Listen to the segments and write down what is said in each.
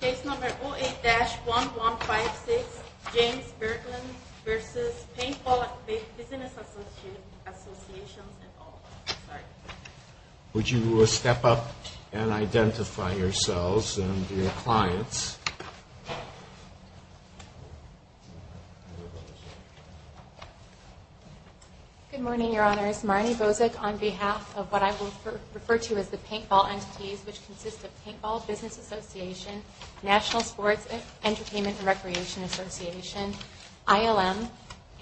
Case number 08-1156, James Berglind v. Paintball Business Association, and all. Would you step up and identify yourselves and your clients? Good morning, Your Honors. Marnie Bozek on behalf of what I will refer to as the Paintball Entities, which consists of Paintball Business Association, National Sports, Entertainment, and Recreation Association, ILM,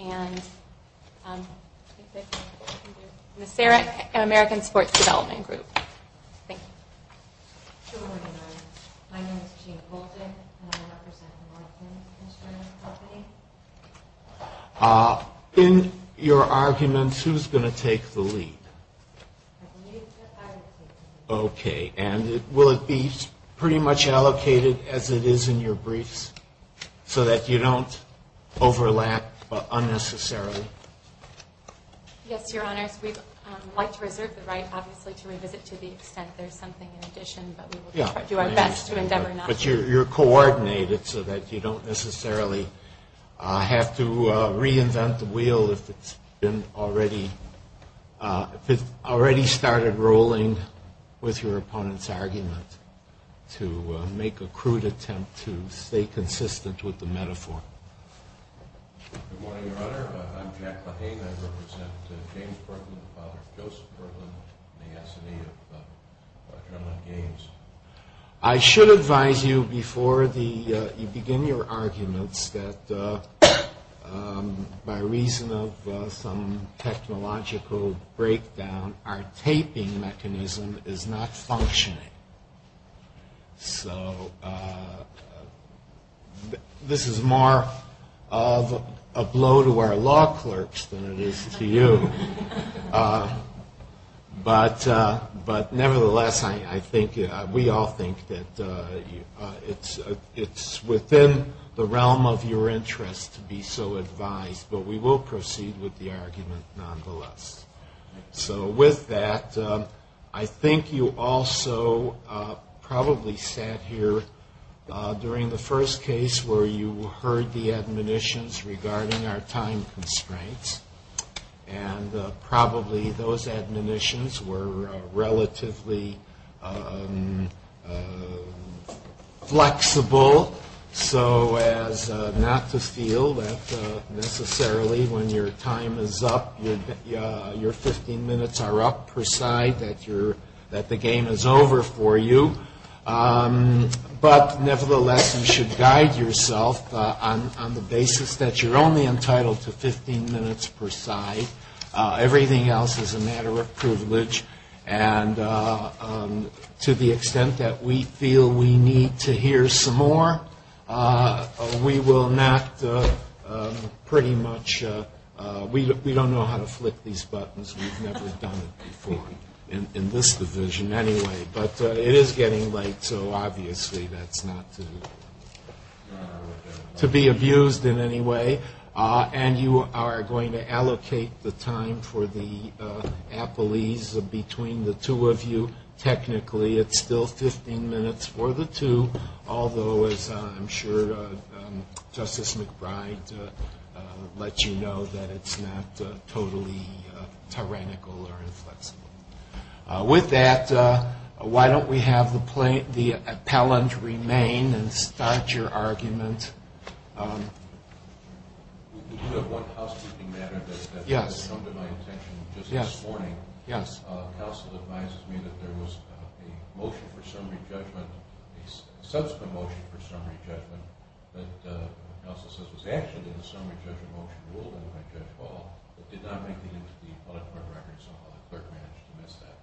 and the American Sports Development Group. Thank you. Good morning, Your Honors. My name is Jean Bolton, and I represent the Marglind Insurance Company. In your arguments, who's going to take the lead? I believe that I will take the lead. Okay. And will it be pretty much allocated as it is in your briefs so that you don't overlap unnecessarily? Yes, Your Honors. We'd like to reserve the right, obviously, to revisit to the extent there's something in addition, but we will do our best to endeavor not to. But you're coordinated so that you don't necessarily have to reinvent the wheel if it's already started rolling with your opponent's argument to make a crude attempt to stay consistent with the metaphor. Good morning, Your Honor. I'm Jack LaHane. I represent James Berglind, the father of Joseph Berglind, and the S&E of John Lennon Games. I should advise you before you begin your arguments that by reason of some technological breakdown, our taping mechanism is not functioning. So this is more of a blow to our law clerks than it is to you. But nevertheless, we all think that it's within the realm of your interest to be so advised, but we will proceed with the argument nonetheless. So with that, I think you also probably sat here during the first case where you heard the admonitions regarding our time constraints. And probably those admonitions were relatively flexible, so as not to feel that necessarily when your time is up, your 15 minutes are up, per se, that the game is over for you. But nevertheless, you should guide yourself on the basis that you're only entitled to 15 minutes per side. Everything else is a matter of privilege. And to the extent that we feel we need to hear some more, we will not pretty much – we don't know how to flick these buttons. We've never done it before in this division anyway. But it is getting late, so obviously that's not to be abused in any way. And you are going to allocate the time for the appellees between the two of you. Technically, it's still 15 minutes for the two, although, as I'm sure Justice McBride lets you know, that it's not totally tyrannical or inflexible. With that, why don't we have the appellant remain and start your argument. We do have one housekeeping matter that has come to my attention just this morning. Counsel advises me that there was a motion for summary judgment, a subsequent motion for summary judgment, that was actually in the summary judgment motion ruling by Judge Hall, but did not make the end of the appellate court record somehow. The clerk managed to miss that.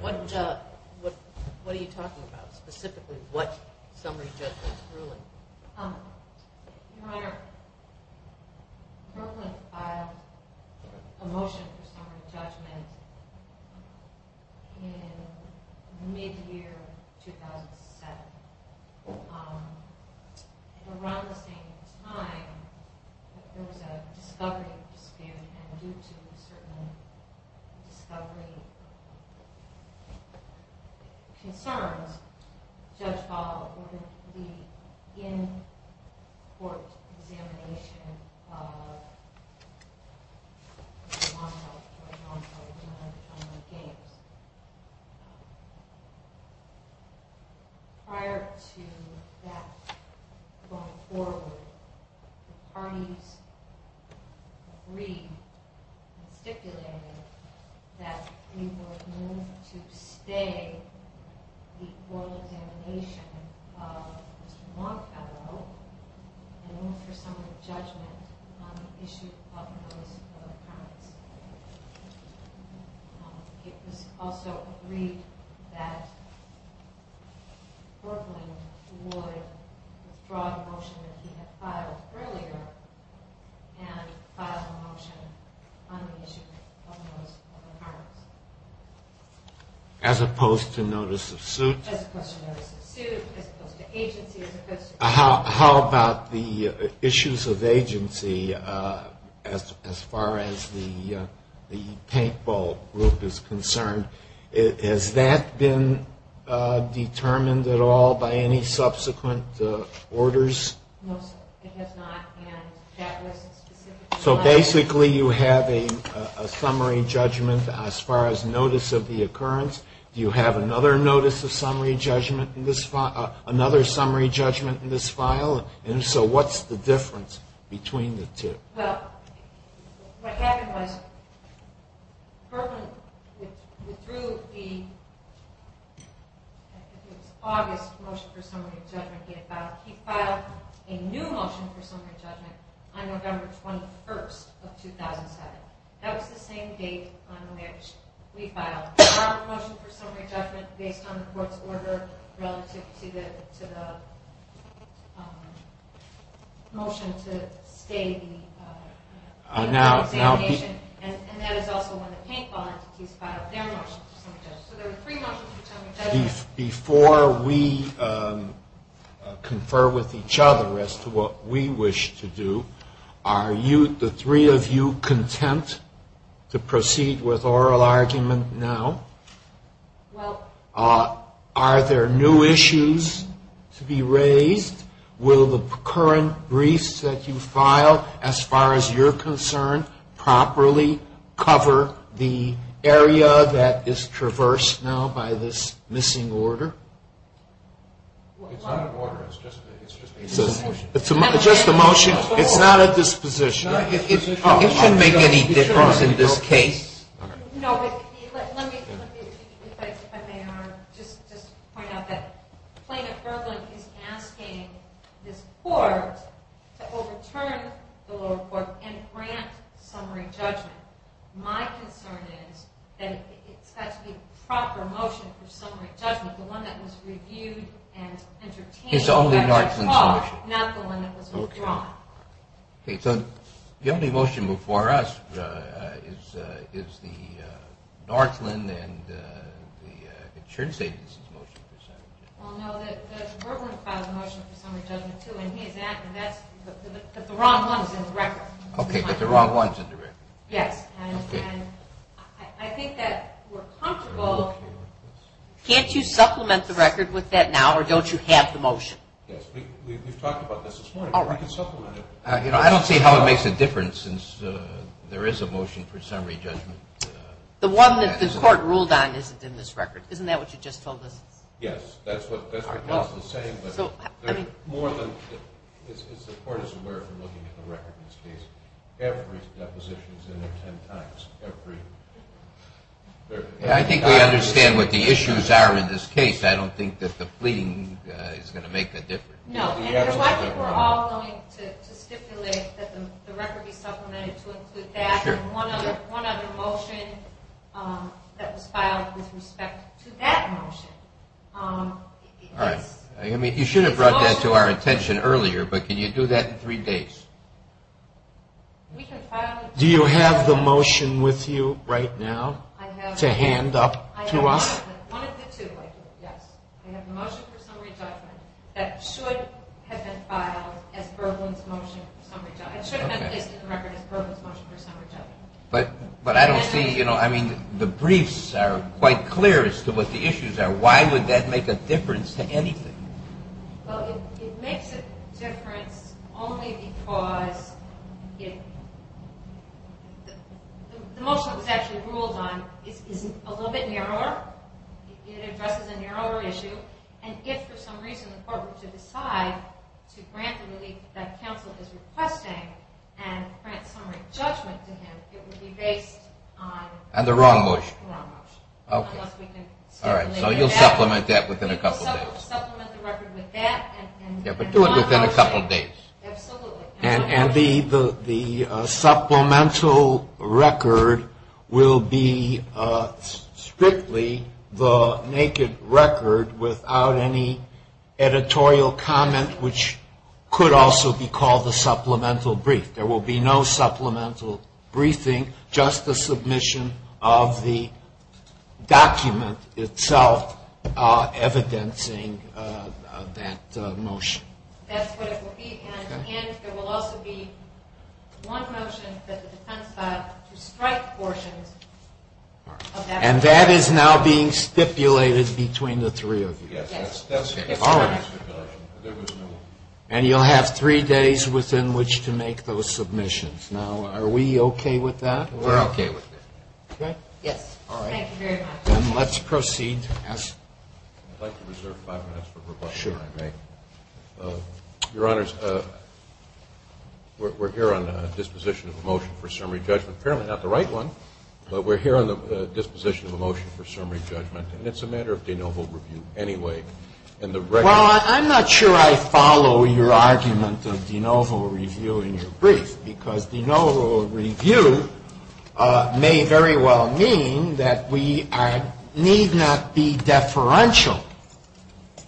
What are you talking about, specifically what summary judgment ruling? …concerns Judge Hall with the in-court examination of the monotony of the games. Prior to that going forward, the parties agreed and stipulated that we would move to stay the oral examination of Mr. Montefiore and move for summary judgment on the issue of those other crimes. It was also agreed that Berkley would withdraw the motion that he had filed earlier and file a motion on the issue of those other crimes. As opposed to notice of suit? As opposed to notice of suit, as opposed to agency, as opposed to… How about the issues of agency as far as the paintball group is concerned? Has that been determined at all by any subsequent orders? No, sir. It has not. And that was specifically… So basically you have a summary judgment as far as notice of the occurrence. Do you have another notice of summary judgment in this file? And so what's the difference between the two? Well, what happened was Berkley withdrew the August motion for summary judgment that he had filed. He filed a new motion for summary judgment on November 21st of 2007. That was the same date on which we filed our motion for summary judgment based on the court's order relative to the motion to stay the examination. And that is also when the paintball entities filed their motion for summary judgment. Before we confer with each other as to what we wish to do, are the three of you content to proceed with oral argument now? Well… Are there new issues to be raised? Will the current briefs that you filed, as far as you're concerned, properly cover the area that is traversed now by this missing order? It's not an order. It's just a motion. It's just a motion? It's not a disposition? It shouldn't make any difference in this case. No, but let me just point out that Plaintiff Berkley is asking this court to overturn the lower court and grant summary judgment. My concern is that it's got to be a proper motion for summary judgment, the one that was reviewed and entertained. It's only Northland's motion? Not the one that was withdrawn. Okay, so the only motion before us is the Northland and the insurance agency's motion for summary judgment. Well, no, Judge Berkley filed the motion for summary judgment, too, and he is asking that, but the wrong one is in the record. Okay, but the wrong one is in the record. Yes, and I think that we're comfortable… Can't you supplement the record with that now, or don't you have the motion? Yes, we've talked about this this morning. All right. We can supplement it. I don't see how it makes a difference since there is a motion for summary judgment. The one that the court ruled on isn't in this record. Isn't that what you just told us? Yes, that's what Paul is saying, but the court is aware from looking at the record in this case. Every deposition is in there ten times. I think we understand what the issues are in this case. I don't think that the pleading is going to make a difference. No, and we're all going to stipulate that the record be supplemented to include that and one other motion that was filed with respect to that motion. All right. You should have brought that to our attention earlier, but can you do that in three days? Do you have the motion with you right now to hand up to us? I have one of the two, yes. I have the motion for summary judgment that should have been filed as Berglund's motion for summary judgment. It should have been listed in the record as Berglund's motion for summary judgment. But I don't see… I mean, the briefs are quite clear as to what the issues are. Why would that make a difference to anything? Well, it makes a difference only because the motion that was actually ruled on is a little bit narrower. It addresses a narrower issue. And if for some reason the court were to decide to grant the relief that counsel is requesting and grant summary judgment to him, it would be based on… And the wrong motion. The wrong motion. Okay. Unless we can… All right, so you'll supplement that within a couple days. Yeah, but do it within a couple days. Absolutely. And the supplemental record will be strictly the naked record without any editorial comment, which could also be called the supplemental brief. There will be no supplemental briefing, just the submission of the document itself evidencing that motion. That's what it will be. Okay. And there will also be one motion that the defense filed to strike portions of that motion. And that is now being stipulated between the three of you. Yes. Yes. It's already stipulated. There was no… And you'll have three days within which to make those submissions. Now, are we okay with that? We're okay with it. Okay? Yes. All right. Thank you very much. Then let's proceed as… I'd like to reserve five minutes for rebuttal, if I may. Sure. Your Honors, we're here on a disposition of a motion for summary judgment. Apparently not the right one, but we're here on the disposition of a motion for summary judgment. And it's a matter of de novo review anyway. Well, I'm not sure I follow your argument of de novo review in your brief, because de novo review may very well mean that we need not be deferential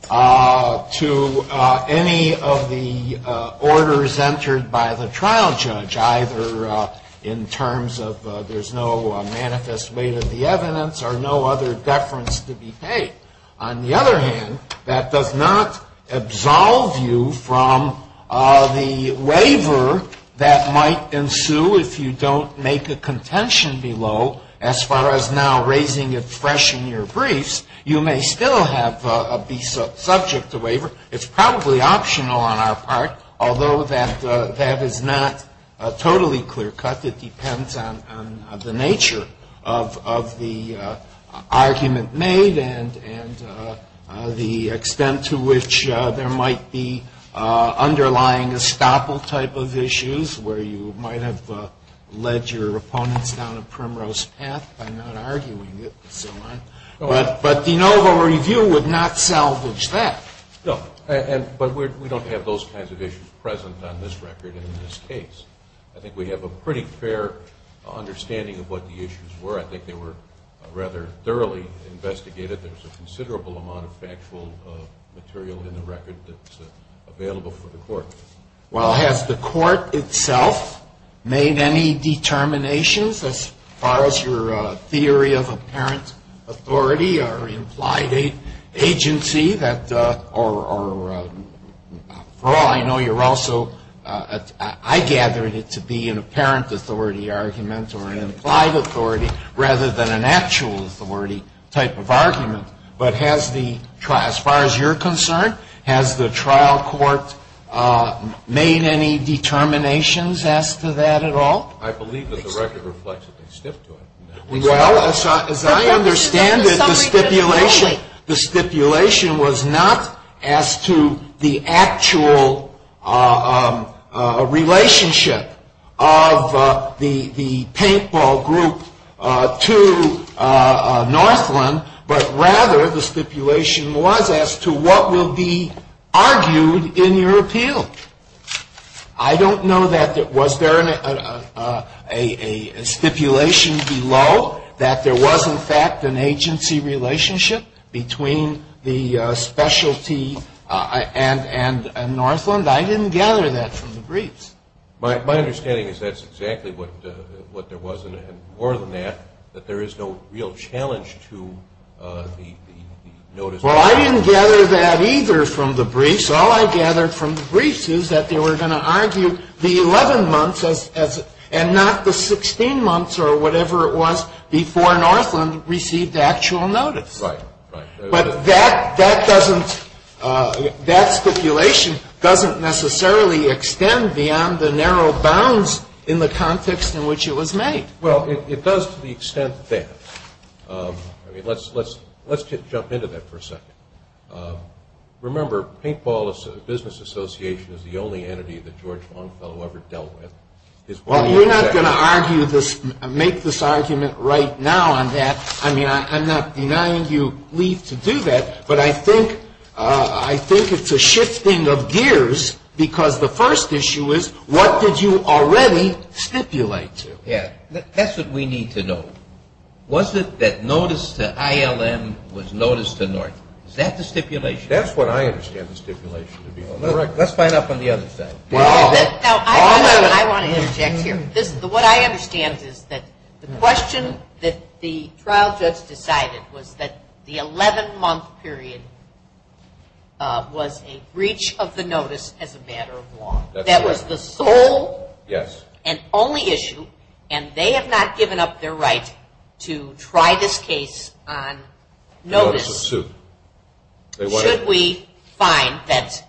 to any of the orders entered by the trial judge, either in terms of there's no manifest weight of the evidence or no other deference to be paid. On the other hand, that does not absolve you from the waiver that might ensue if you don't make a contention below. As far as now raising it fresh in your briefs, you may still be subject to waiver. It's probably optional on our part, although that is not totally clear-cut. It depends on the nature of the argument made and the extent to which there might be underlying estoppel type of issues where you might have led your opponents down a primrose path by not arguing it. But de novo review would not salvage that. No. But we don't have those kinds of issues present on this record in this case. I think we have a pretty fair understanding of what the issues were. I think they were rather thoroughly investigated. There's a considerable amount of factual material in the record that's available for the Court. Well, has the Court itself made any determinations as far as your theory of apparent authority or implied agency that are – for all I know, you're also – I gathered it to be an apparent authority argument or an implied authority rather than an actual authority type of argument. But has the – as far as you're concerned, has the trial court made any determinations as to that at all? I believe that the record reflects that they stipped to it. Well, as I understand it, the stipulation was not as to the actual relationship of the paintball group to Northland, but rather the stipulation was as to what will be argued in your appeal. I don't know that – was there a stipulation below that there was, in fact, an agency relationship between the specialty and Northland? I didn't gather that from the briefs. My understanding is that's exactly what there was, and more than that, that there is no real challenge to the notice. Well, I didn't gather that either from the briefs. All I gathered from the briefs is that they were going to argue the 11 months as – and not the 16 months or whatever it was before Northland received actual notice. Right, right. But that doesn't – that stipulation doesn't necessarily extend beyond the narrow bounds in the context in which it was made. Well, it does to the extent that – I mean, let's jump into that for a second. Remember, Paintball Business Association is the only entity that George Longfellow ever dealt with. Well, we're not going to argue this – make this argument right now on that. I mean, I'm not denying you leave to do that, but I think it's a shifting of gears because the first issue is what did you already stipulate to? Yeah, that's what we need to know. Was it that notice to ILM was notice to North? Is that the stipulation? That's what I understand the stipulation to be. Let's find out from the other side. Now, I want to interject here. What I understand is that the question that the trial judge decided was that the 11-month period was a breach of the notice as a matter of law. That was the sole and only issue, and they have not given up their right to try this case on notice. Should we find that?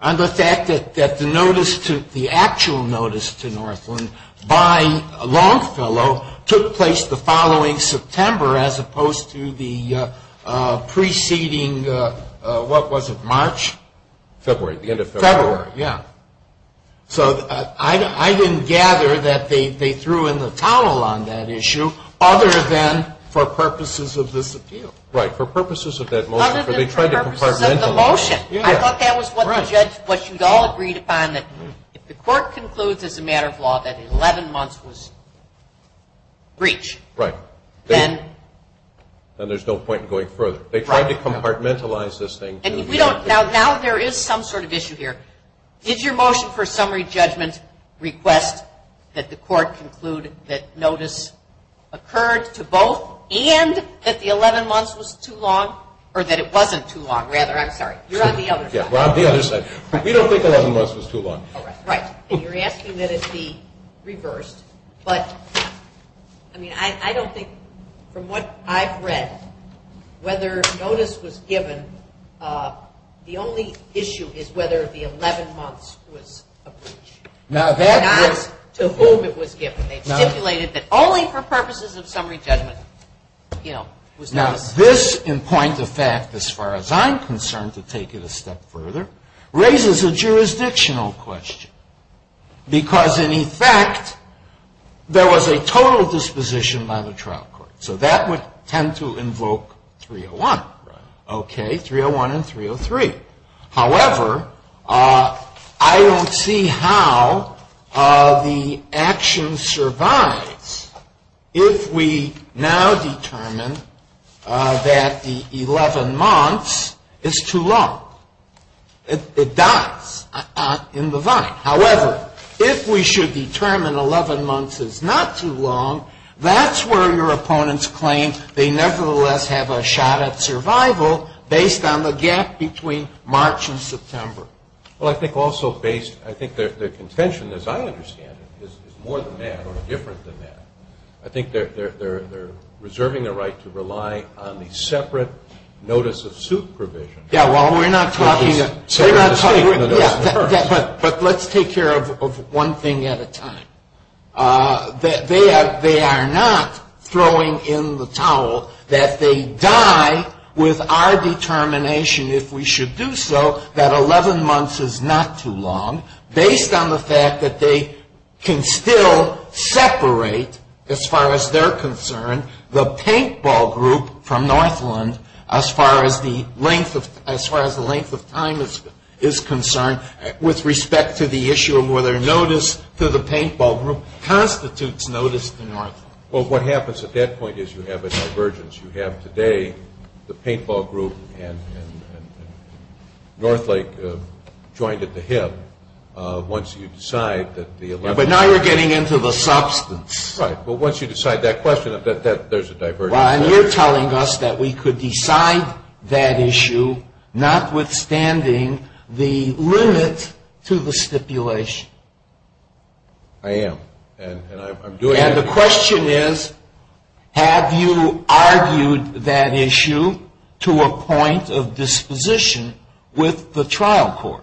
On the fact that the actual notice to Northland by Longfellow took place the following September as opposed to the preceding – what was it, March? February, the end of February. February, yeah. So I didn't gather that they threw in the towel on that issue other than for purposes of this appeal. Right, for purposes of that motion. Other than for purposes of the motion. I thought that was what the judge – what you all agreed upon, that if the court concludes as a matter of law that 11 months was breach, then there's no point in going further. They tried to compartmentalize this thing. Now there is some sort of issue here. Did your motion for summary judgment request that the court conclude that notice occurred to both and that the 11 months was too long – or that it wasn't too long, rather? I'm sorry. You're on the other side. We're on the other side. We don't think 11 months was too long. Right. You're asking that it be reversed, but I don't think, from what I've read, whether notice was given – the only issue is whether the 11 months was a breach. Now that was – Not to whom it was given. They stipulated that only for purposes of summary judgment, you know, was notice. Now this, in point of fact, as far as I'm concerned, to take it a step further, raises a jurisdictional question because, in effect, there was a total disposition by the trial court. So that would tend to invoke 301. Right. Okay, 301 and 303. However, I don't see how the action survives if we now determine that the 11 months is too long. It dies in the vine. However, if we should determine 11 months is not too long, that's where your opponents claim they nevertheless have a shot at survival, based on the gap between March and September. Well, I think also based – I think their contention, as I understand it, is more than that or different than that. I think they're reserving the right to rely on the separate notice of suit provision. Yeah, well, we're not talking – But let's take care of one thing at a time. They are not throwing in the towel that they die with our determination, if we should do so, that 11 months is not too long, based on the fact that they can still separate, as far as they're concerned, the paintball group from Northland, as far as the length of time is concerned, with respect to the issue of whether notice to the paintball group constitutes notice to Northland. Well, what happens at that point is you have a divergence. You have today the paintball group and Northlake joined at the hip. Once you decide that the 11 – But now you're getting into the substance. Right, but once you decide that question, there's a divergence. Well, and you're telling us that we could decide that issue, notwithstanding the limit to the stipulation. I am, and I'm doing – And the question is, have you argued that issue to a point of disposition with the trial court?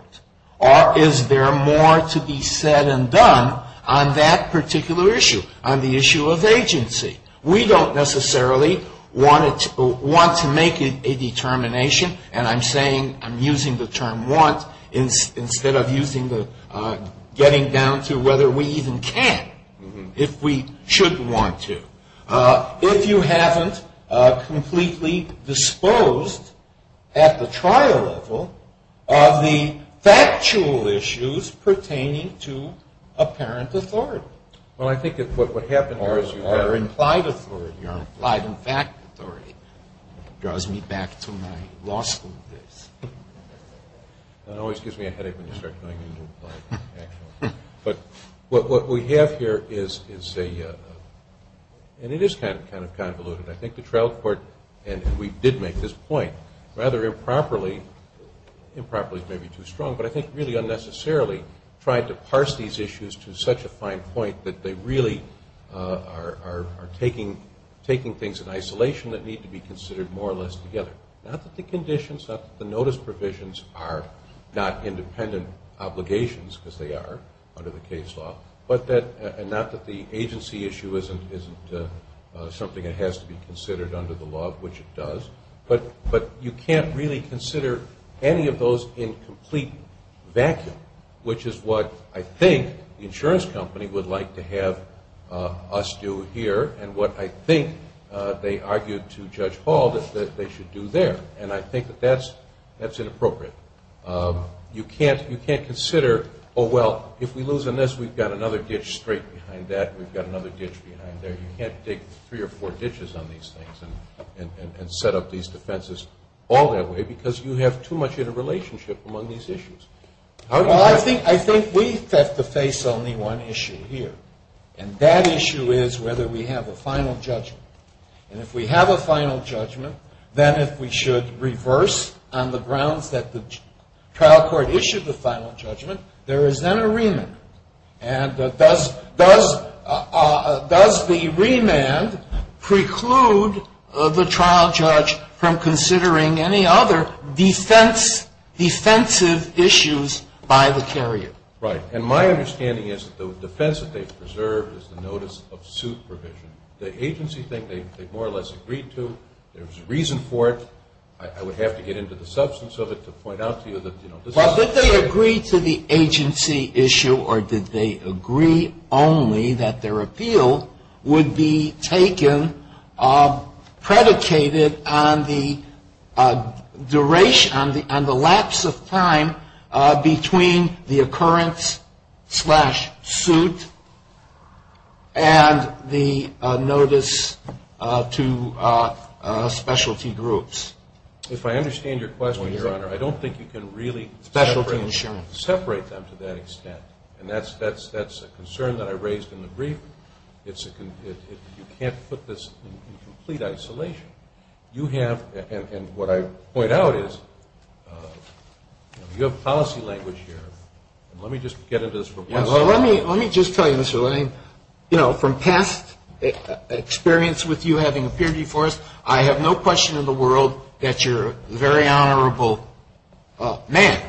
Or is there more to be said and done on that particular issue, on the issue of agency? We don't necessarily want to make a determination, and I'm saying I'm using the term want instead of getting down to whether we even can, if we should want to. If you haven't completely disposed at the trial level of the factual issues pertaining to apparent authority. Well, I think what happened here is you have – Or implied authority, or implied and fact authority. It draws me back to my law school days. That always gives me a headache when you start going into implied and fact authority. But what we have here is a – and it is kind of convoluted. I think the trial court – and we did make this point rather improperly. Improperly is maybe too strong, but I think really unnecessarily tried to parse these issues to such a fine point that they really are taking things in isolation that need to be considered more or less together. Not that the conditions, not that the notice provisions are not independent obligations, because they are under the case law, and not that the agency issue isn't something that has to be considered under the law, which it does, but you can't really consider any of those in complete vacuum, which is what I think the insurance company would like to have us do here and what I think they argued to Judge Hall that they should do there, and I think that that's inappropriate. You can't consider, oh, well, if we lose on this, we've got another ditch straight behind that and we've got another ditch behind there. You can't dig three or four ditches on these things and set up these defenses all that way because you have too much in a relationship among these issues. Well, I think we have to face only one issue here, and that issue is whether we have a final judgment. And if we have a final judgment, then if we should reverse on the grounds that the trial court issued the final judgment, there is then a remand. And does the remand preclude the trial judge from considering any other defensive issues by the carrier? Right. And my understanding is that the defense that they've preserved is the notice of suit provision. The agency thing they more or less agreed to. There was a reason for it. I would have to get into the substance of it to point out to you that, you know. Well, did they agree to the agency issue or did they agree only that their appeal would be taken, predicated on the lapse of time between the occurrence slash suit and the notice to specialty groups? If I understand your question, Your Honor, I don't think you can really separate them to that extent. And that's a concern that I raised in the brief. You can't put this in complete isolation. You have, and what I point out is, you have policy language here. And let me just get into this for one second. Well, let me just tell you, Mr. Lane. You know, from past experience with you having appeared before us, I have no question in the world that you're a very honorable man.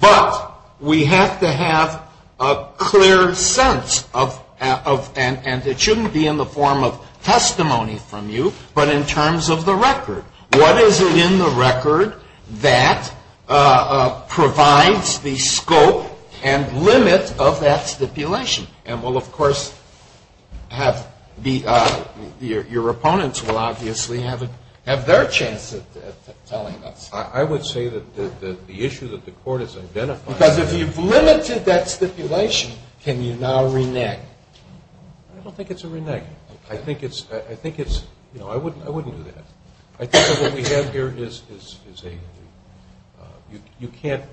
But we have to have a clear sense of, and it shouldn't be in the form of testimony from you, but in terms of the record. What is it in the record that provides the scope and limit of that stipulation? And we'll, of course, have your opponents will obviously have their chance at telling us. I would say that the issue that the Court has identified. Because if you've limited that stipulation, can you now renege? I don't think it's a renege. I think it's, you know, I wouldn't do that. I think that what we have here is a, you can't,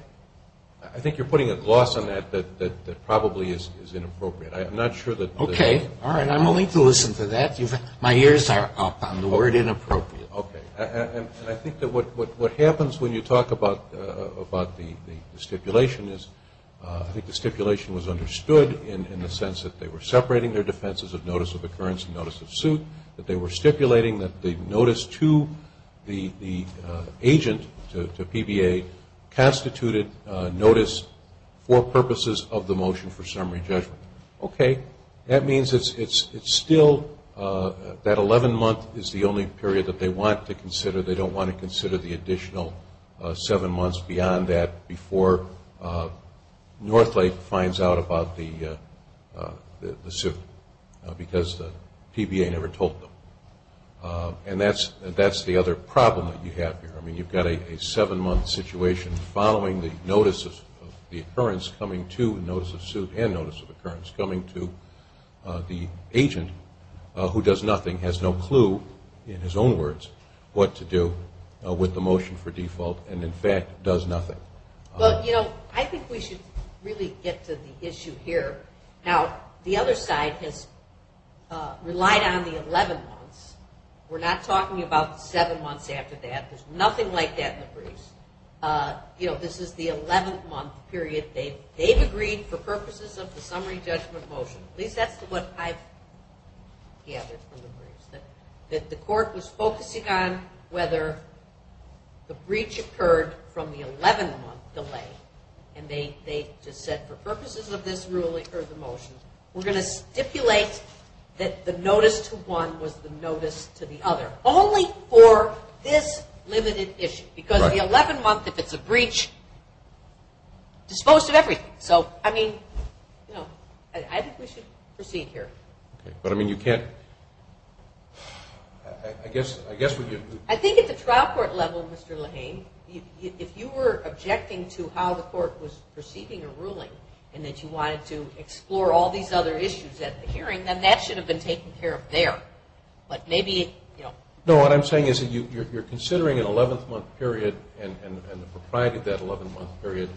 I think you're putting a gloss on that that probably is inappropriate. I'm not sure that. Okay. All right, I'm willing to listen to that. My ears are up on the word inappropriate. Okay. And I think that what happens when you talk about the stipulation is I think the stipulation was understood in the sense that they were separating their defenses of notice of occurrence and notice of suit, that they were stipulating that the notice to the agent, to PBA, constituted notice for purposes of the motion for summary judgment. Okay. That means it's still, that 11-month is the only period that they want to consider. They don't want to consider the additional seven months beyond that before Northlake finds out about the suit, because the PBA never told them. And that's the other problem that you have here. I mean, you've got a seven-month situation following the notice of the occurrence coming to notice of suit and notice of occurrence coming to the agent who does nothing, has no clue, in his own words, what to do with the motion for default and, in fact, does nothing. Well, you know, I think we should really get to the issue here. Now, the other side has relied on the 11 months. We're not talking about seven months after that. There's nothing like that in the briefs. You know, this is the 11-month period. They've agreed for purposes of the summary judgment motion. At least that's what I've gathered from the briefs, that the court was focusing on whether the breach occurred from the 11-month delay. And they just said, for purposes of this ruling or the motion, we're going to stipulate that the notice to one was the notice to the other, only for this limited issue. Because the 11-month, if it's a breach, disposed of everything. So, I mean, you know, I think we should proceed here. Okay. But, I mean, you can't. I guess we could. I think at the trial court level, Mr. Lahane, if you were objecting to how the court was perceiving a ruling and that you wanted to explore all these other issues at the hearing, then that should have been taken care of there. But maybe, you know. No, what I'm saying is that you're considering an 11-month period and the propriety of that 11-month period.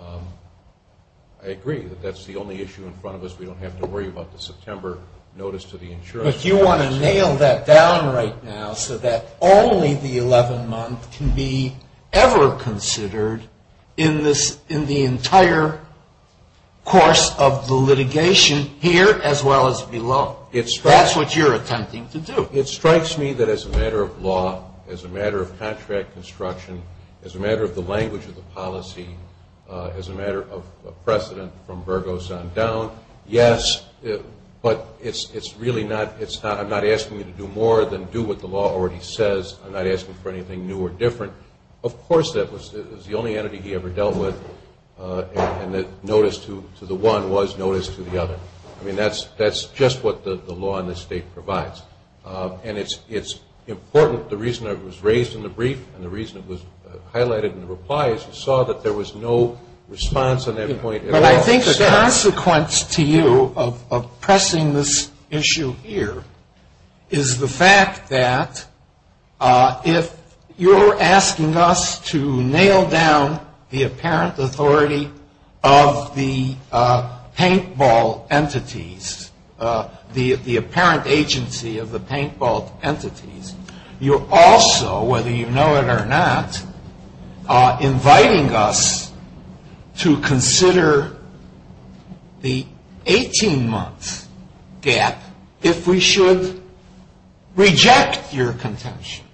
I agree that that's the only issue in front of us. We don't have to worry about the September notice to the insurance company. But you want to nail that down right now so that only the 11-month can be ever considered in the entire course of the litigation here as well as below. That's what you're attempting to do. It strikes me that as a matter of law, as a matter of contract construction, as a matter of the language of the policy, as a matter of precedent from Burgos on down, yes, but I'm not asking you to do more than do what the law already says. I'm not asking for anything new or different. Of course that was the only entity he ever dealt with, and the notice to the one was notice to the other. I mean, that's just what the law in this state provides. And it's important. The reason it was raised in the brief and the reason it was highlighted in the reply is you saw that there was no response on that point at all. But I think the consequence to you of pressing this issue here is the fact that if you're asking us to nail down the apparent authority of the paintball entities, the apparent agency of the paintball entities, you're also, whether you know it or not, inviting us to consider the 18-month gap if we should reject your contention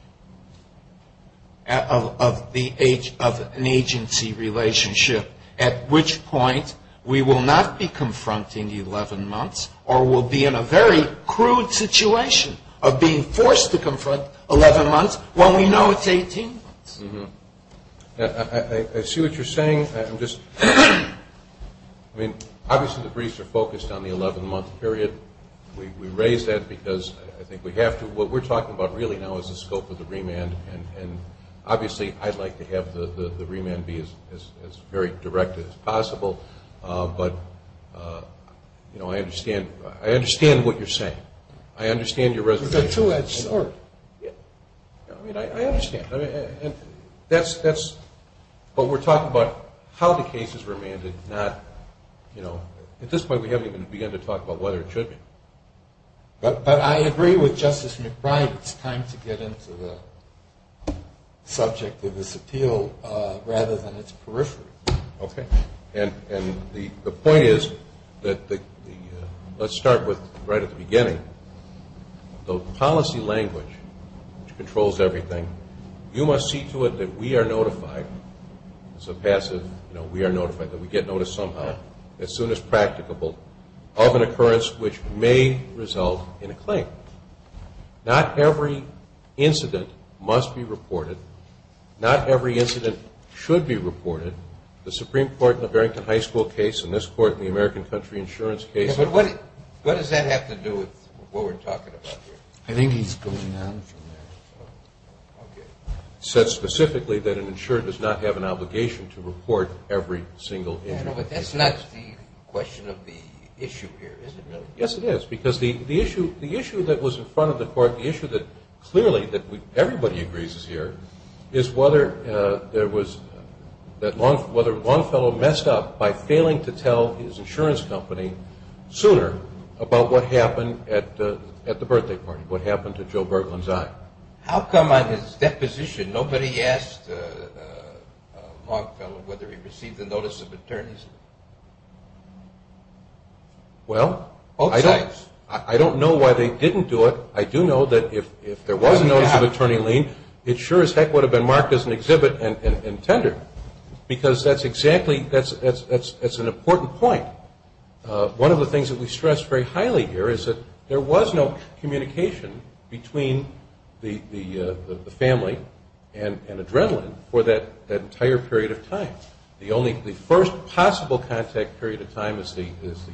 of an agency relationship, at which point we will not be confronting 11 months or we'll be in a very crude situation of being forced to confront 11 months when we know it's 18 months. I see what you're saying. I mean, obviously the briefs are focused on the 11-month period. We raise that because I think we have to. What we're talking about really now is the scope of the remand, and obviously I'd like to have the remand be as very direct as possible. But, you know, I understand what you're saying. I understand your resignation. It's a two-edged sword. I mean, I understand. But we're talking about how the case is remanded, not, you know, at this point we haven't even begun to talk about whether it should be. But I agree with Justice McBride. It's time to get into the subject of this appeal rather than its periphery. Okay. And the point is that let's start with right at the beginning. The policy language, which controls everything, you must see to it that we are notified. It's a passive, you know, we are notified, that we get noticed somehow, as soon as practicable of an occurrence which may result in a claim. Not every incident must be reported. Not every incident should be reported. The Supreme Court in the Barrington High School case, and this Court in the American country insurance case. Yeah, but what does that have to do with what we're talking about here? I think he's going on from there. Okay. It says specifically that an insurer does not have an obligation to report every single incident. Yeah, but that's not the question of the issue here, is it really? Yes, it is. Because the issue that was in front of the Court, the issue that clearly everybody agrees is here, is whether Longfellow messed up by failing to tell his insurance company sooner about what happened at the birthday party, what happened to Joe Berglund's eye. How come on his deposition nobody asked Longfellow whether he received a notice of attorneyship? Well, I don't know why they didn't do it. But I do know that if there was a notice of attorney lien, it sure as heck would have been marked as an exhibit and tender. Because that's an important point. One of the things that we stress very highly here is that there was no communication between the family and Adrenaline for that entire period of time. The first possible contact period of time is the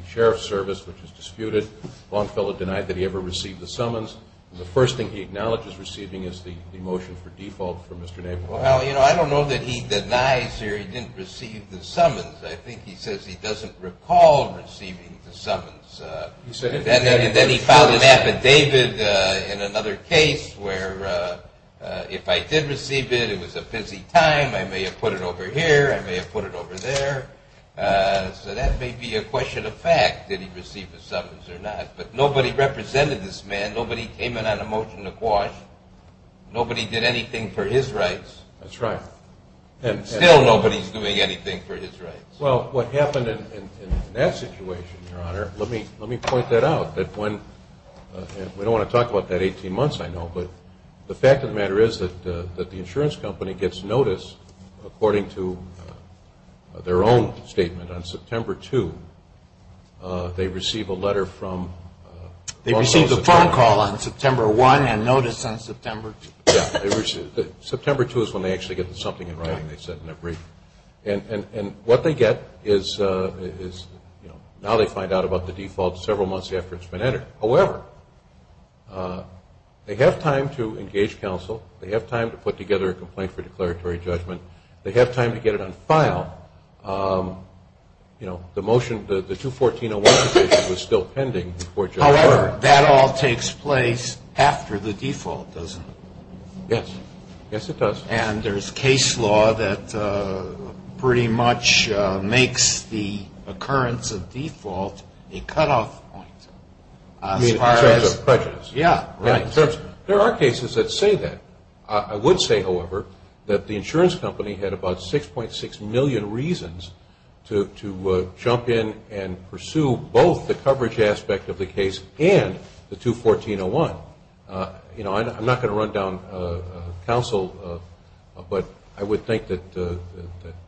sheriff's service, which is disputed. Longfellow denied that he ever received the summons. The first thing he acknowledges receiving is the motion for default from Mr. Naval. Well, you know, I don't know that he denies or he didn't receive the summons. I think he says he doesn't recall receiving the summons. Then he filed an affidavit in another case where if I did receive it, it was a busy time. I may have put it over here. I may have put it over there. So that may be a question of fact, did he receive the summons or not. But nobody represented this man. Nobody came in on a motion to quash. Nobody did anything for his rights. That's right. And still nobody's doing anything for his rights. Well, what happened in that situation, Your Honor, let me point that out. We don't want to talk about that 18 months, I know. But the fact of the matter is that the insurance company gets notice, according to their own statement, on September 2. They receive a letter from – They received a phone call on September 1 and notice on September 2. Yeah. September 2 is when they actually get something in writing, they said in their brief. And what they get is, you know, now they find out about the default several months after it's been entered. However, they have time to engage counsel. They have time to put together a complaint for declaratory judgment. They have time to get it on file. You know, the motion, the 214-01 decision was still pending before judgment. However, that all takes place after the default, doesn't it? Yes. Yes, it does. And there's case law that pretty much makes the occurrence of default a cutoff point. In terms of prejudice. Yeah, right. There are cases that say that. I would say, however, that the insurance company had about 6.6 million reasons to jump in and pursue both the coverage aspect of the case and the 214-01. You know, I'm not going to run down counsel, but I would think that the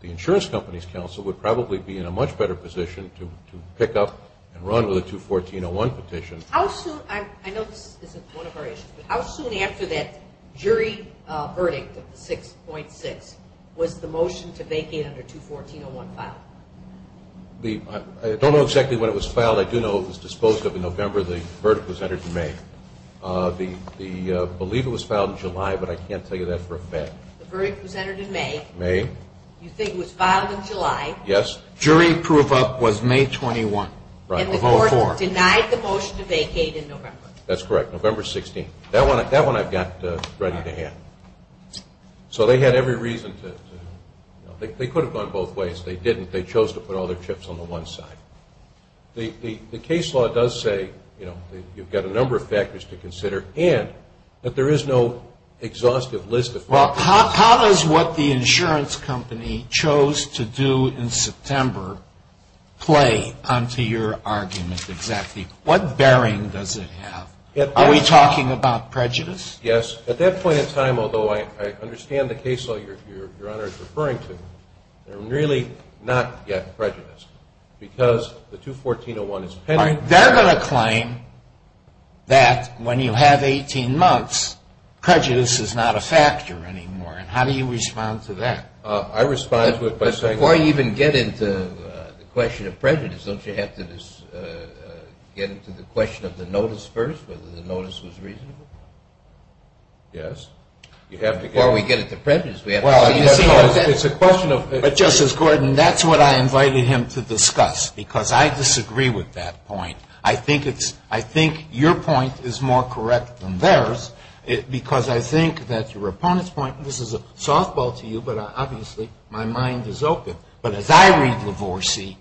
insurance company's counsel would probably be in a much better position to pick up and run with a 214-01 petition. I know this isn't one of our issues, but how soon after that jury verdict of 6.6 was the motion to vacate under 214-01 filed? I don't know exactly when it was filed. I do know it was disposed of in November. The verdict was entered in May. I believe it was filed in July, but I can't tell you that for a fact. The verdict was entered in May. May. You think it was filed in July. Yes. Jury proof up was May 21. Right. And the court denied the motion to vacate in November. That's correct. November 16th. That one I've got ready to hand. So they had every reason to. They could have gone both ways. They didn't. They chose to put all their chips on the one side. The case law does say, you know, you've got a number of factors to consider and that there is no exhaustive list of factors. How does what the insurance company chose to do in September play onto your argument exactly? What bearing does it have? Are we talking about prejudice? Yes. At that point in time, although I understand the case law your Honor is referring to, they're really not yet prejudiced because the 214-01 is pending. They're going to claim that when you have 18 months, prejudice is not a factor anymore. And how do you respond to that? I respond to it by saying. Before you even get into the question of prejudice, don't you have to get into the question of the notice first, whether the notice was reasonable? Yes. Before we get into prejudice. Well, it's a question of. But Justice Gordon, that's what I invited him to discuss because I disagree with that point. I think it's. I think your point is more correct than theirs because I think that your opponent's point. This is a softball to you, but obviously my mind is open. But as I read Lavorsi,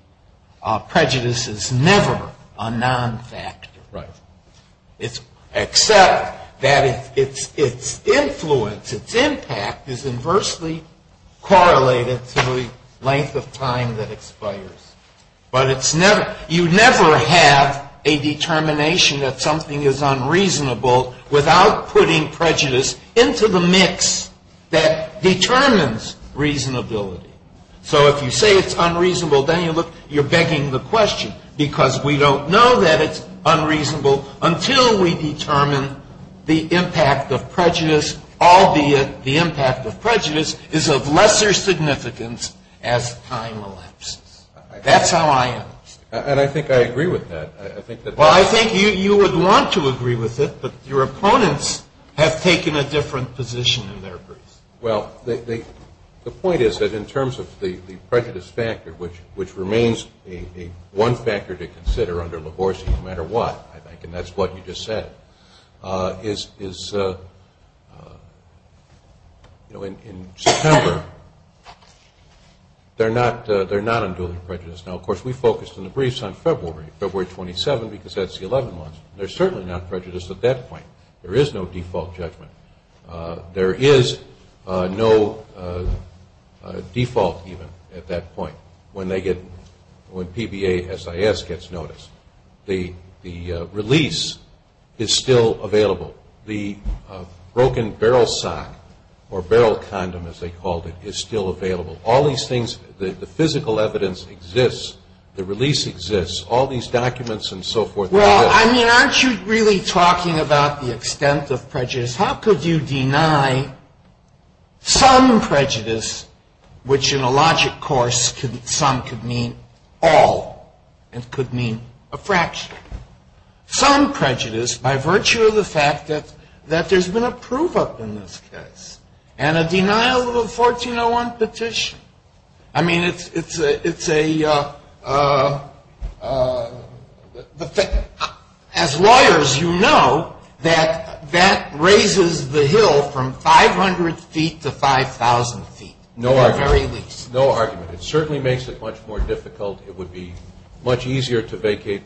prejudice is never a non-factor. Right. Except that its influence, its impact is inversely correlated to the length of time that expires. But you never have a determination that something is unreasonable without putting prejudice into the mix that determines reasonability. So if you say it's unreasonable, then you're begging the question because we don't know that it's unreasonable until we determine the impact of prejudice, albeit the impact of prejudice is of lesser significance as time elapses. That's how I am. And I think I agree with that. Well, I think you would want to agree with it, but your opponents have taken a different position in their briefs. Well, the point is that in terms of the prejudice factor, which remains one factor to consider under Lavorsi no matter what, I think, and that's what you just said, is in September they're not unduly prejudiced. Now, of course, we focused in the briefs on February, February 27, because that's the 11 months. They're certainly not prejudiced at that point. There is no default judgment. There is no default even at that point when PBA-SIS gets noticed. The release is still available. The broken barrel sock or barrel condom, as they called it, is still available. All these things, the physical evidence exists. The release exists. All these documents and so forth exist. Well, I mean, aren't you really talking about the extent of prejudice? How could you deny some prejudice, which in a logic course some could mean all and could mean a fraction, some prejudice by virtue of the fact that there's been a prove-up in this case and a denial of a 1401 petition? I mean, it's a – as lawyers, you know that that raises the hill from 500 feet to 5,000 feet, at the very least. No argument. It certainly makes it much more difficult. It would be much easier to make a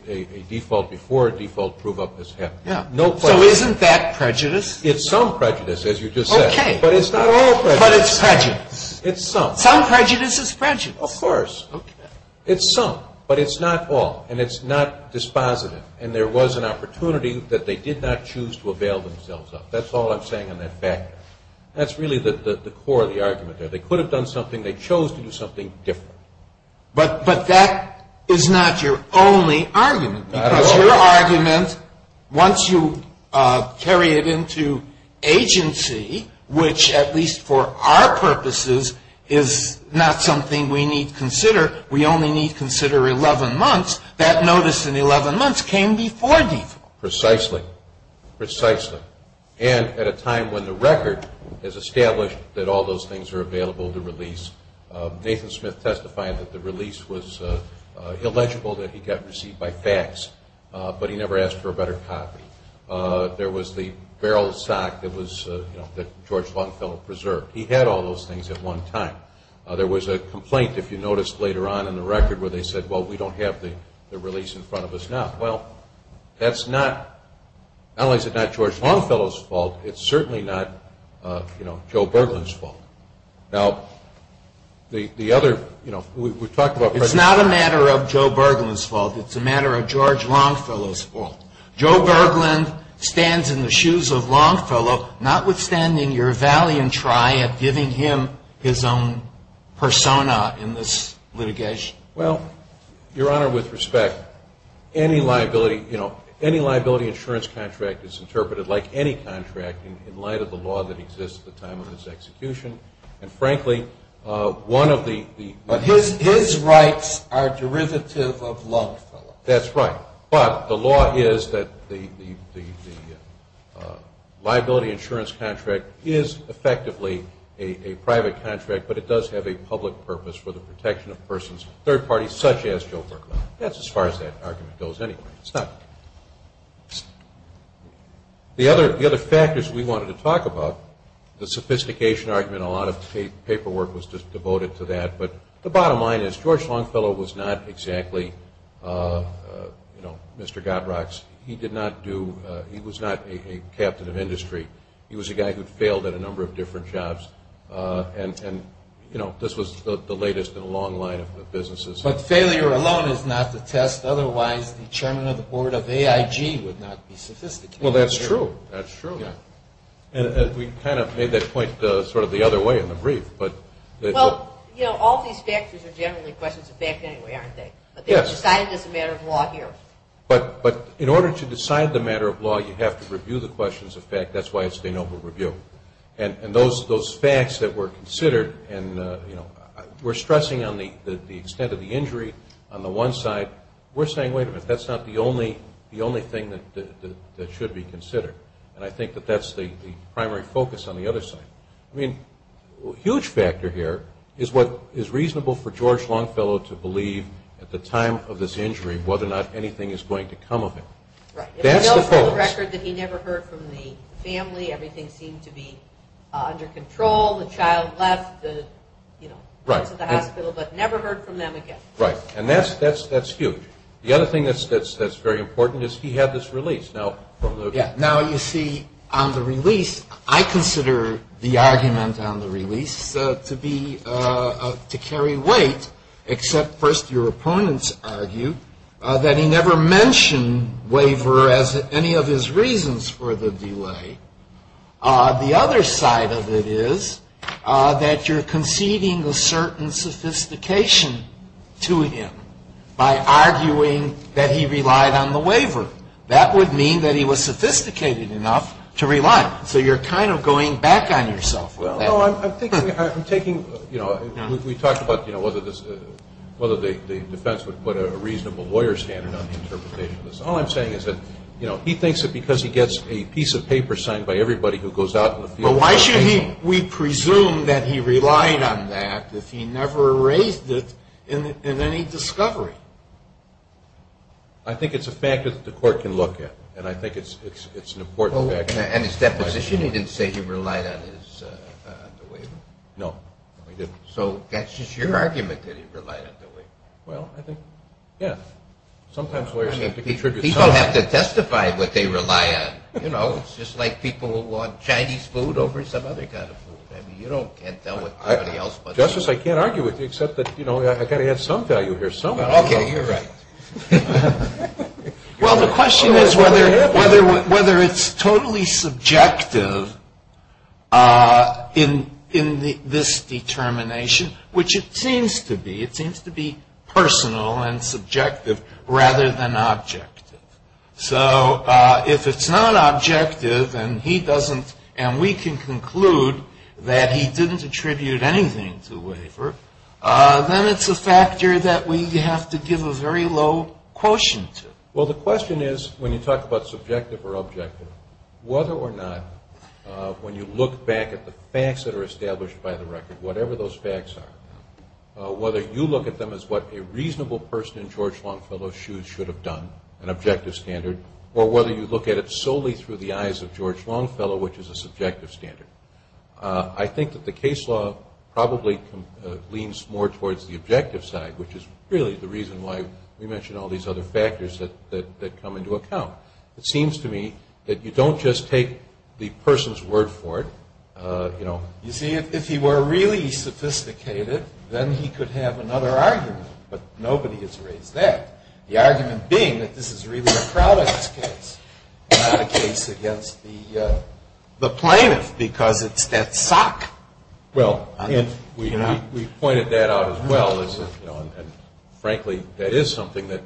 default before a default prove-up has happened. So isn't that prejudice? It's some prejudice, as you just said. Okay. But it's not all prejudice. But it's prejudice. It's some. Some prejudice is prejudice. Of course. Okay. It's some. But it's not all. And it's not dispositive. And there was an opportunity that they did not choose to avail themselves of. That's all I'm saying on that factor. That's really the core of the argument there. They could have done something. They chose to do something different. But that is not your only argument. Not at all. Once you carry it into agency, which at least for our purposes is not something we need to consider, we only need to consider 11 months, that notice in 11 months came before default. Precisely. Precisely. And at a time when the record has established that all those things are available to release. Nathan Smith testifying that the release was illegible, that he got received by fax, but he never asked for a better copy. There was the barrel sock that George Longfellow preserved. He had all those things at one time. There was a complaint, if you noticed later on in the record, where they said, well, we don't have the release in front of us now. Well, that's not, not only is it not George Longfellow's fault, it's certainly not Joe Berglund's fault. Now, the other, you know, we've talked about. It's not a matter of Joe Berglund's fault. It's a matter of George Longfellow's fault. Joe Berglund stands in the shoes of Longfellow, notwithstanding your valiant try at giving him his own persona in this litigation. Well, Your Honor, with respect, any liability, you know, any liability insurance contract is interpreted like any contract in light of the law that exists at the time of his execution. And, frankly, one of the... But his rights are derivative of Longfellow's. That's right. But the law is that the liability insurance contract is effectively a private contract, but it does have a public purpose for the protection of persons, third parties, such as Joe Berglund. That's as far as that argument goes anyway. It's not... The other factors we wanted to talk about, the sophistication argument, a lot of paperwork was devoted to that. But the bottom line is George Longfellow was not exactly, you know, Mr. Godrocks. He did not do... He was not a captain of industry. He was a guy who failed at a number of different jobs. And, you know, this was the latest in a long line of businesses. But failure alone is not the test. Otherwise, the chairman of the board of AIG would not be sophisticated. Well, that's true. That's true. And we kind of made that point sort of the other way in the brief, but... Well, you know, all these factors are generally questions of fact anyway, aren't they? Yes. But they were decided as a matter of law here. But in order to decide the matter of law, you have to review the questions of fact. That's why it's a noble review. And those facts that were considered and, you know, we're stressing on the extent of the injury on the one side. We're saying, wait a minute, that's not the only thing that should be considered. And I think that that's the primary focus on the other side. I mean, a huge factor here is what is reasonable for George Longfellow to believe at the time of this injury whether or not anything is going to come of it. Right. If he knows for the record that he never heard from the family, everything seemed to be under control, the child left, you know, went to the hospital, but never heard from them again. Right. And that's huge. The other thing that's very important is he had this release. Now, you see, on the release, I consider the argument on the release to carry weight, except first your opponents argue that he never mentioned waiver as any of his reasons for the delay. The other side of it is that you're conceding a certain sophistication to him by arguing that he relied on the waiver. That would mean that he was sophisticated enough to rely. So you're kind of going back on yourself with that. Well, I'm thinking, you know, we talked about, you know, whether the defense would put a reasonable lawyer standard on the interpretation of this. All I'm saying is that, you know, he thinks that because he gets a piece of paper signed by everybody who goes out in the field. But why should we presume that he relied on that if he never raised it in any discovery? I think it's a fact that the court can look at, and I think it's an important fact. And his deposition, he didn't say he relied on the waiver. No, he didn't. So that's just your argument that he relied on the waiver. Well, I think, yeah. Sometimes lawyers have to contribute something. People have to testify what they rely on. You know, it's just like people who want Chinese food over some other kind of food. I mean, you can't tell what somebody else wants. Justice, I can't argue with you except that, you know, I've got to add some value here, some value. Okay, you're right. Well, the question is whether it's totally subjective in this determination, which it seems to be. And subjective rather than objective. So if it's not objective and we can conclude that he didn't attribute anything to a waiver, then it's a factor that we have to give a very low quotient to. Well, the question is, when you talk about subjective or objective, whether or not, when you look back at the facts that are established by the record, whatever those facts are, whether you look at them as what a reasonable person in George Longfellow's shoes should have done, an objective standard, or whether you look at it solely through the eyes of George Longfellow, which is a subjective standard. I think that the case law probably leans more towards the objective side, which is really the reason why we mention all these other factors that come into account. It seems to me that you don't just take the person's word for it. You see, if he were really sophisticated, then he could have another argument. But nobody has raised that. The argument being that this is really a product case, not a case against the plaintiff because it's that sock. Well, we pointed that out as well. And, frankly, that is something that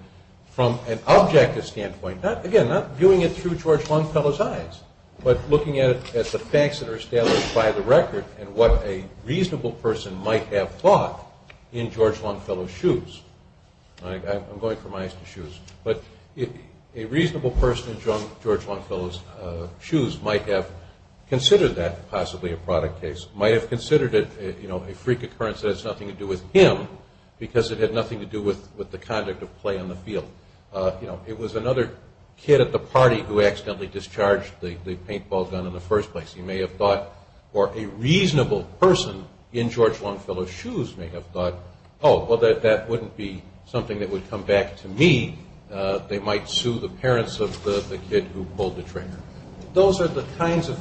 from an objective standpoint, again, not viewing it through George Longfellow's eyes, but looking at it as the facts that are established by the record and what a reasonable person might have thought in George Longfellow's shoes. I'm going from eyes to shoes. But a reasonable person in George Longfellow's shoes might have considered that possibly a product case, might have considered it a freak occurrence that has nothing to do with him because it had nothing to do with the conduct of play on the field. It was another kid at the party who accidentally discharged the paintball gun in the first place. He may have thought, or a reasonable person in George Longfellow's shoes may have thought, oh, well, that wouldn't be something that would come back to me. They might sue the parents of the kid who pulled the trigger. Those are the kinds of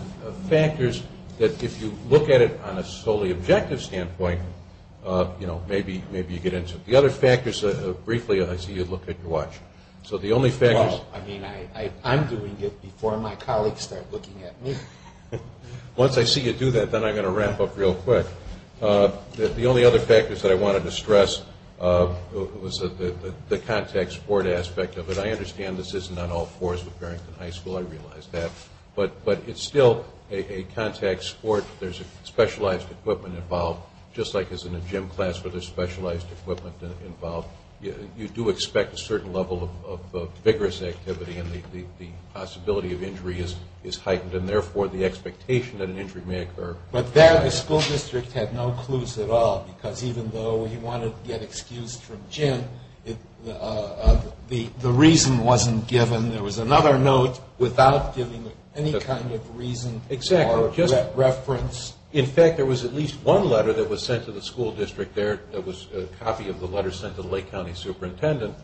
factors that if you look at it on a solely objective standpoint, maybe you get into it. The other factors, briefly, I see you look at your watch. I'm doing it before my colleagues start looking at me. Once I see you do that, then I'm going to wrap up real quick. The only other factors that I wanted to stress was the contact sport aspect of it. I understand this isn't on all fours with Farrington High School. I realize that. But it's still a contact sport. There's specialized equipment involved, just like as in a gym class where there's specialized equipment involved. You do expect a certain level of vigorous activity, and the possibility of injury is heightened, and therefore the expectation that an injury may occur. But there the school district had no clues at all because even though he wanted to get excused from gym, the reason wasn't given. Then there was another note without giving any kind of reason or reference. In fact, there was at least one letter that was sent to the school district there, that was a copy of the letter sent to the Lake County superintendent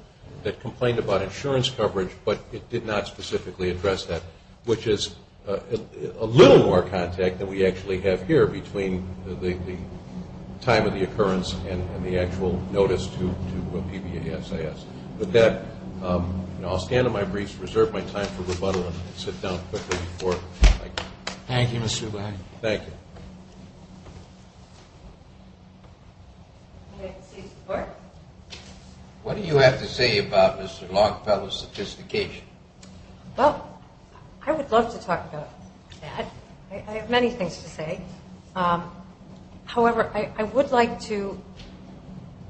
that complained about insurance coverage, but it did not specifically address that, which is a little more contact than we actually have here between the time of the occurrence and the actual notice to PBASAS. With that, I'll stand on my briefs, reserve my time for rebuttal, and sit down quickly before I go. Thank you, Mr. Ubaldi. Thank you. What do you have to say about Mr. Longfellow's sophistication? Well, I would love to talk about that. I have many things to say. However, I would like to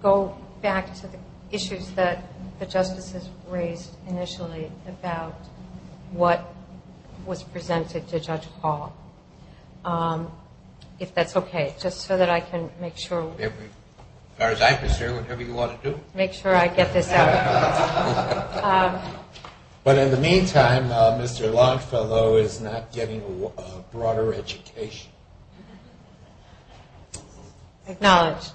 go back to the issues that the justices raised initially about what was presented to Judge Paul, if that's okay, just so that I can make sure. As far as I'm concerned, whatever you want to do. Make sure I get this out. But in the meantime, Mr. Longfellow is not getting a broader education. Acknowledged.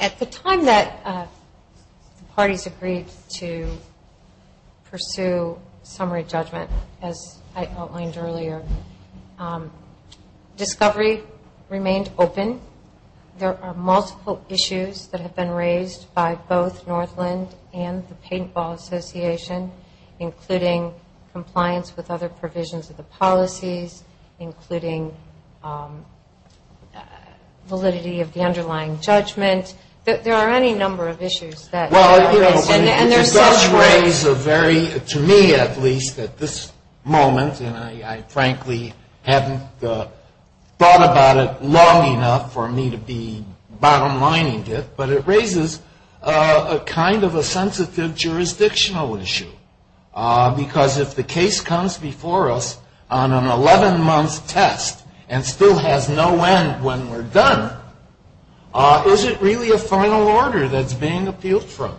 At the time that the parties agreed to pursue summary judgment, as I outlined earlier, discovery remained open. There are multiple issues that have been raised by both Northland and the Paintball Association, including compliance with other provisions of the policies, including validity of the underlying judgment. There are any number of issues. Well, it does raise a very, to me at least at this moment, and I frankly haven't thought about it long enough for me to be bottom lining it, but it raises a kind of a sensitive jurisdictional issue. Because if the case comes before us on an 11-month test and still has no end when we're done, is it really a final order that's being appealed from?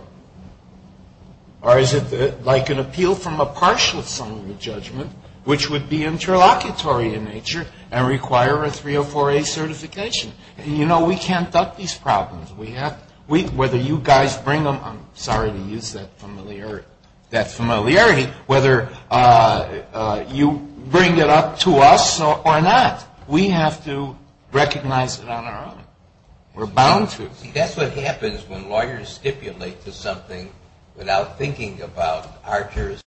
Or is it like an appeal from a partial summary judgment, which would be interlocutory in nature, and require a 304A certification? You know, we can't duck these problems. Whether you guys bring them, I'm sorry to use that familiarity, whether you bring it up to us or not, we have to recognize it on our own. We're bound to. See, that's what happens when lawyers stipulate to something without thinking about our jurisdiction.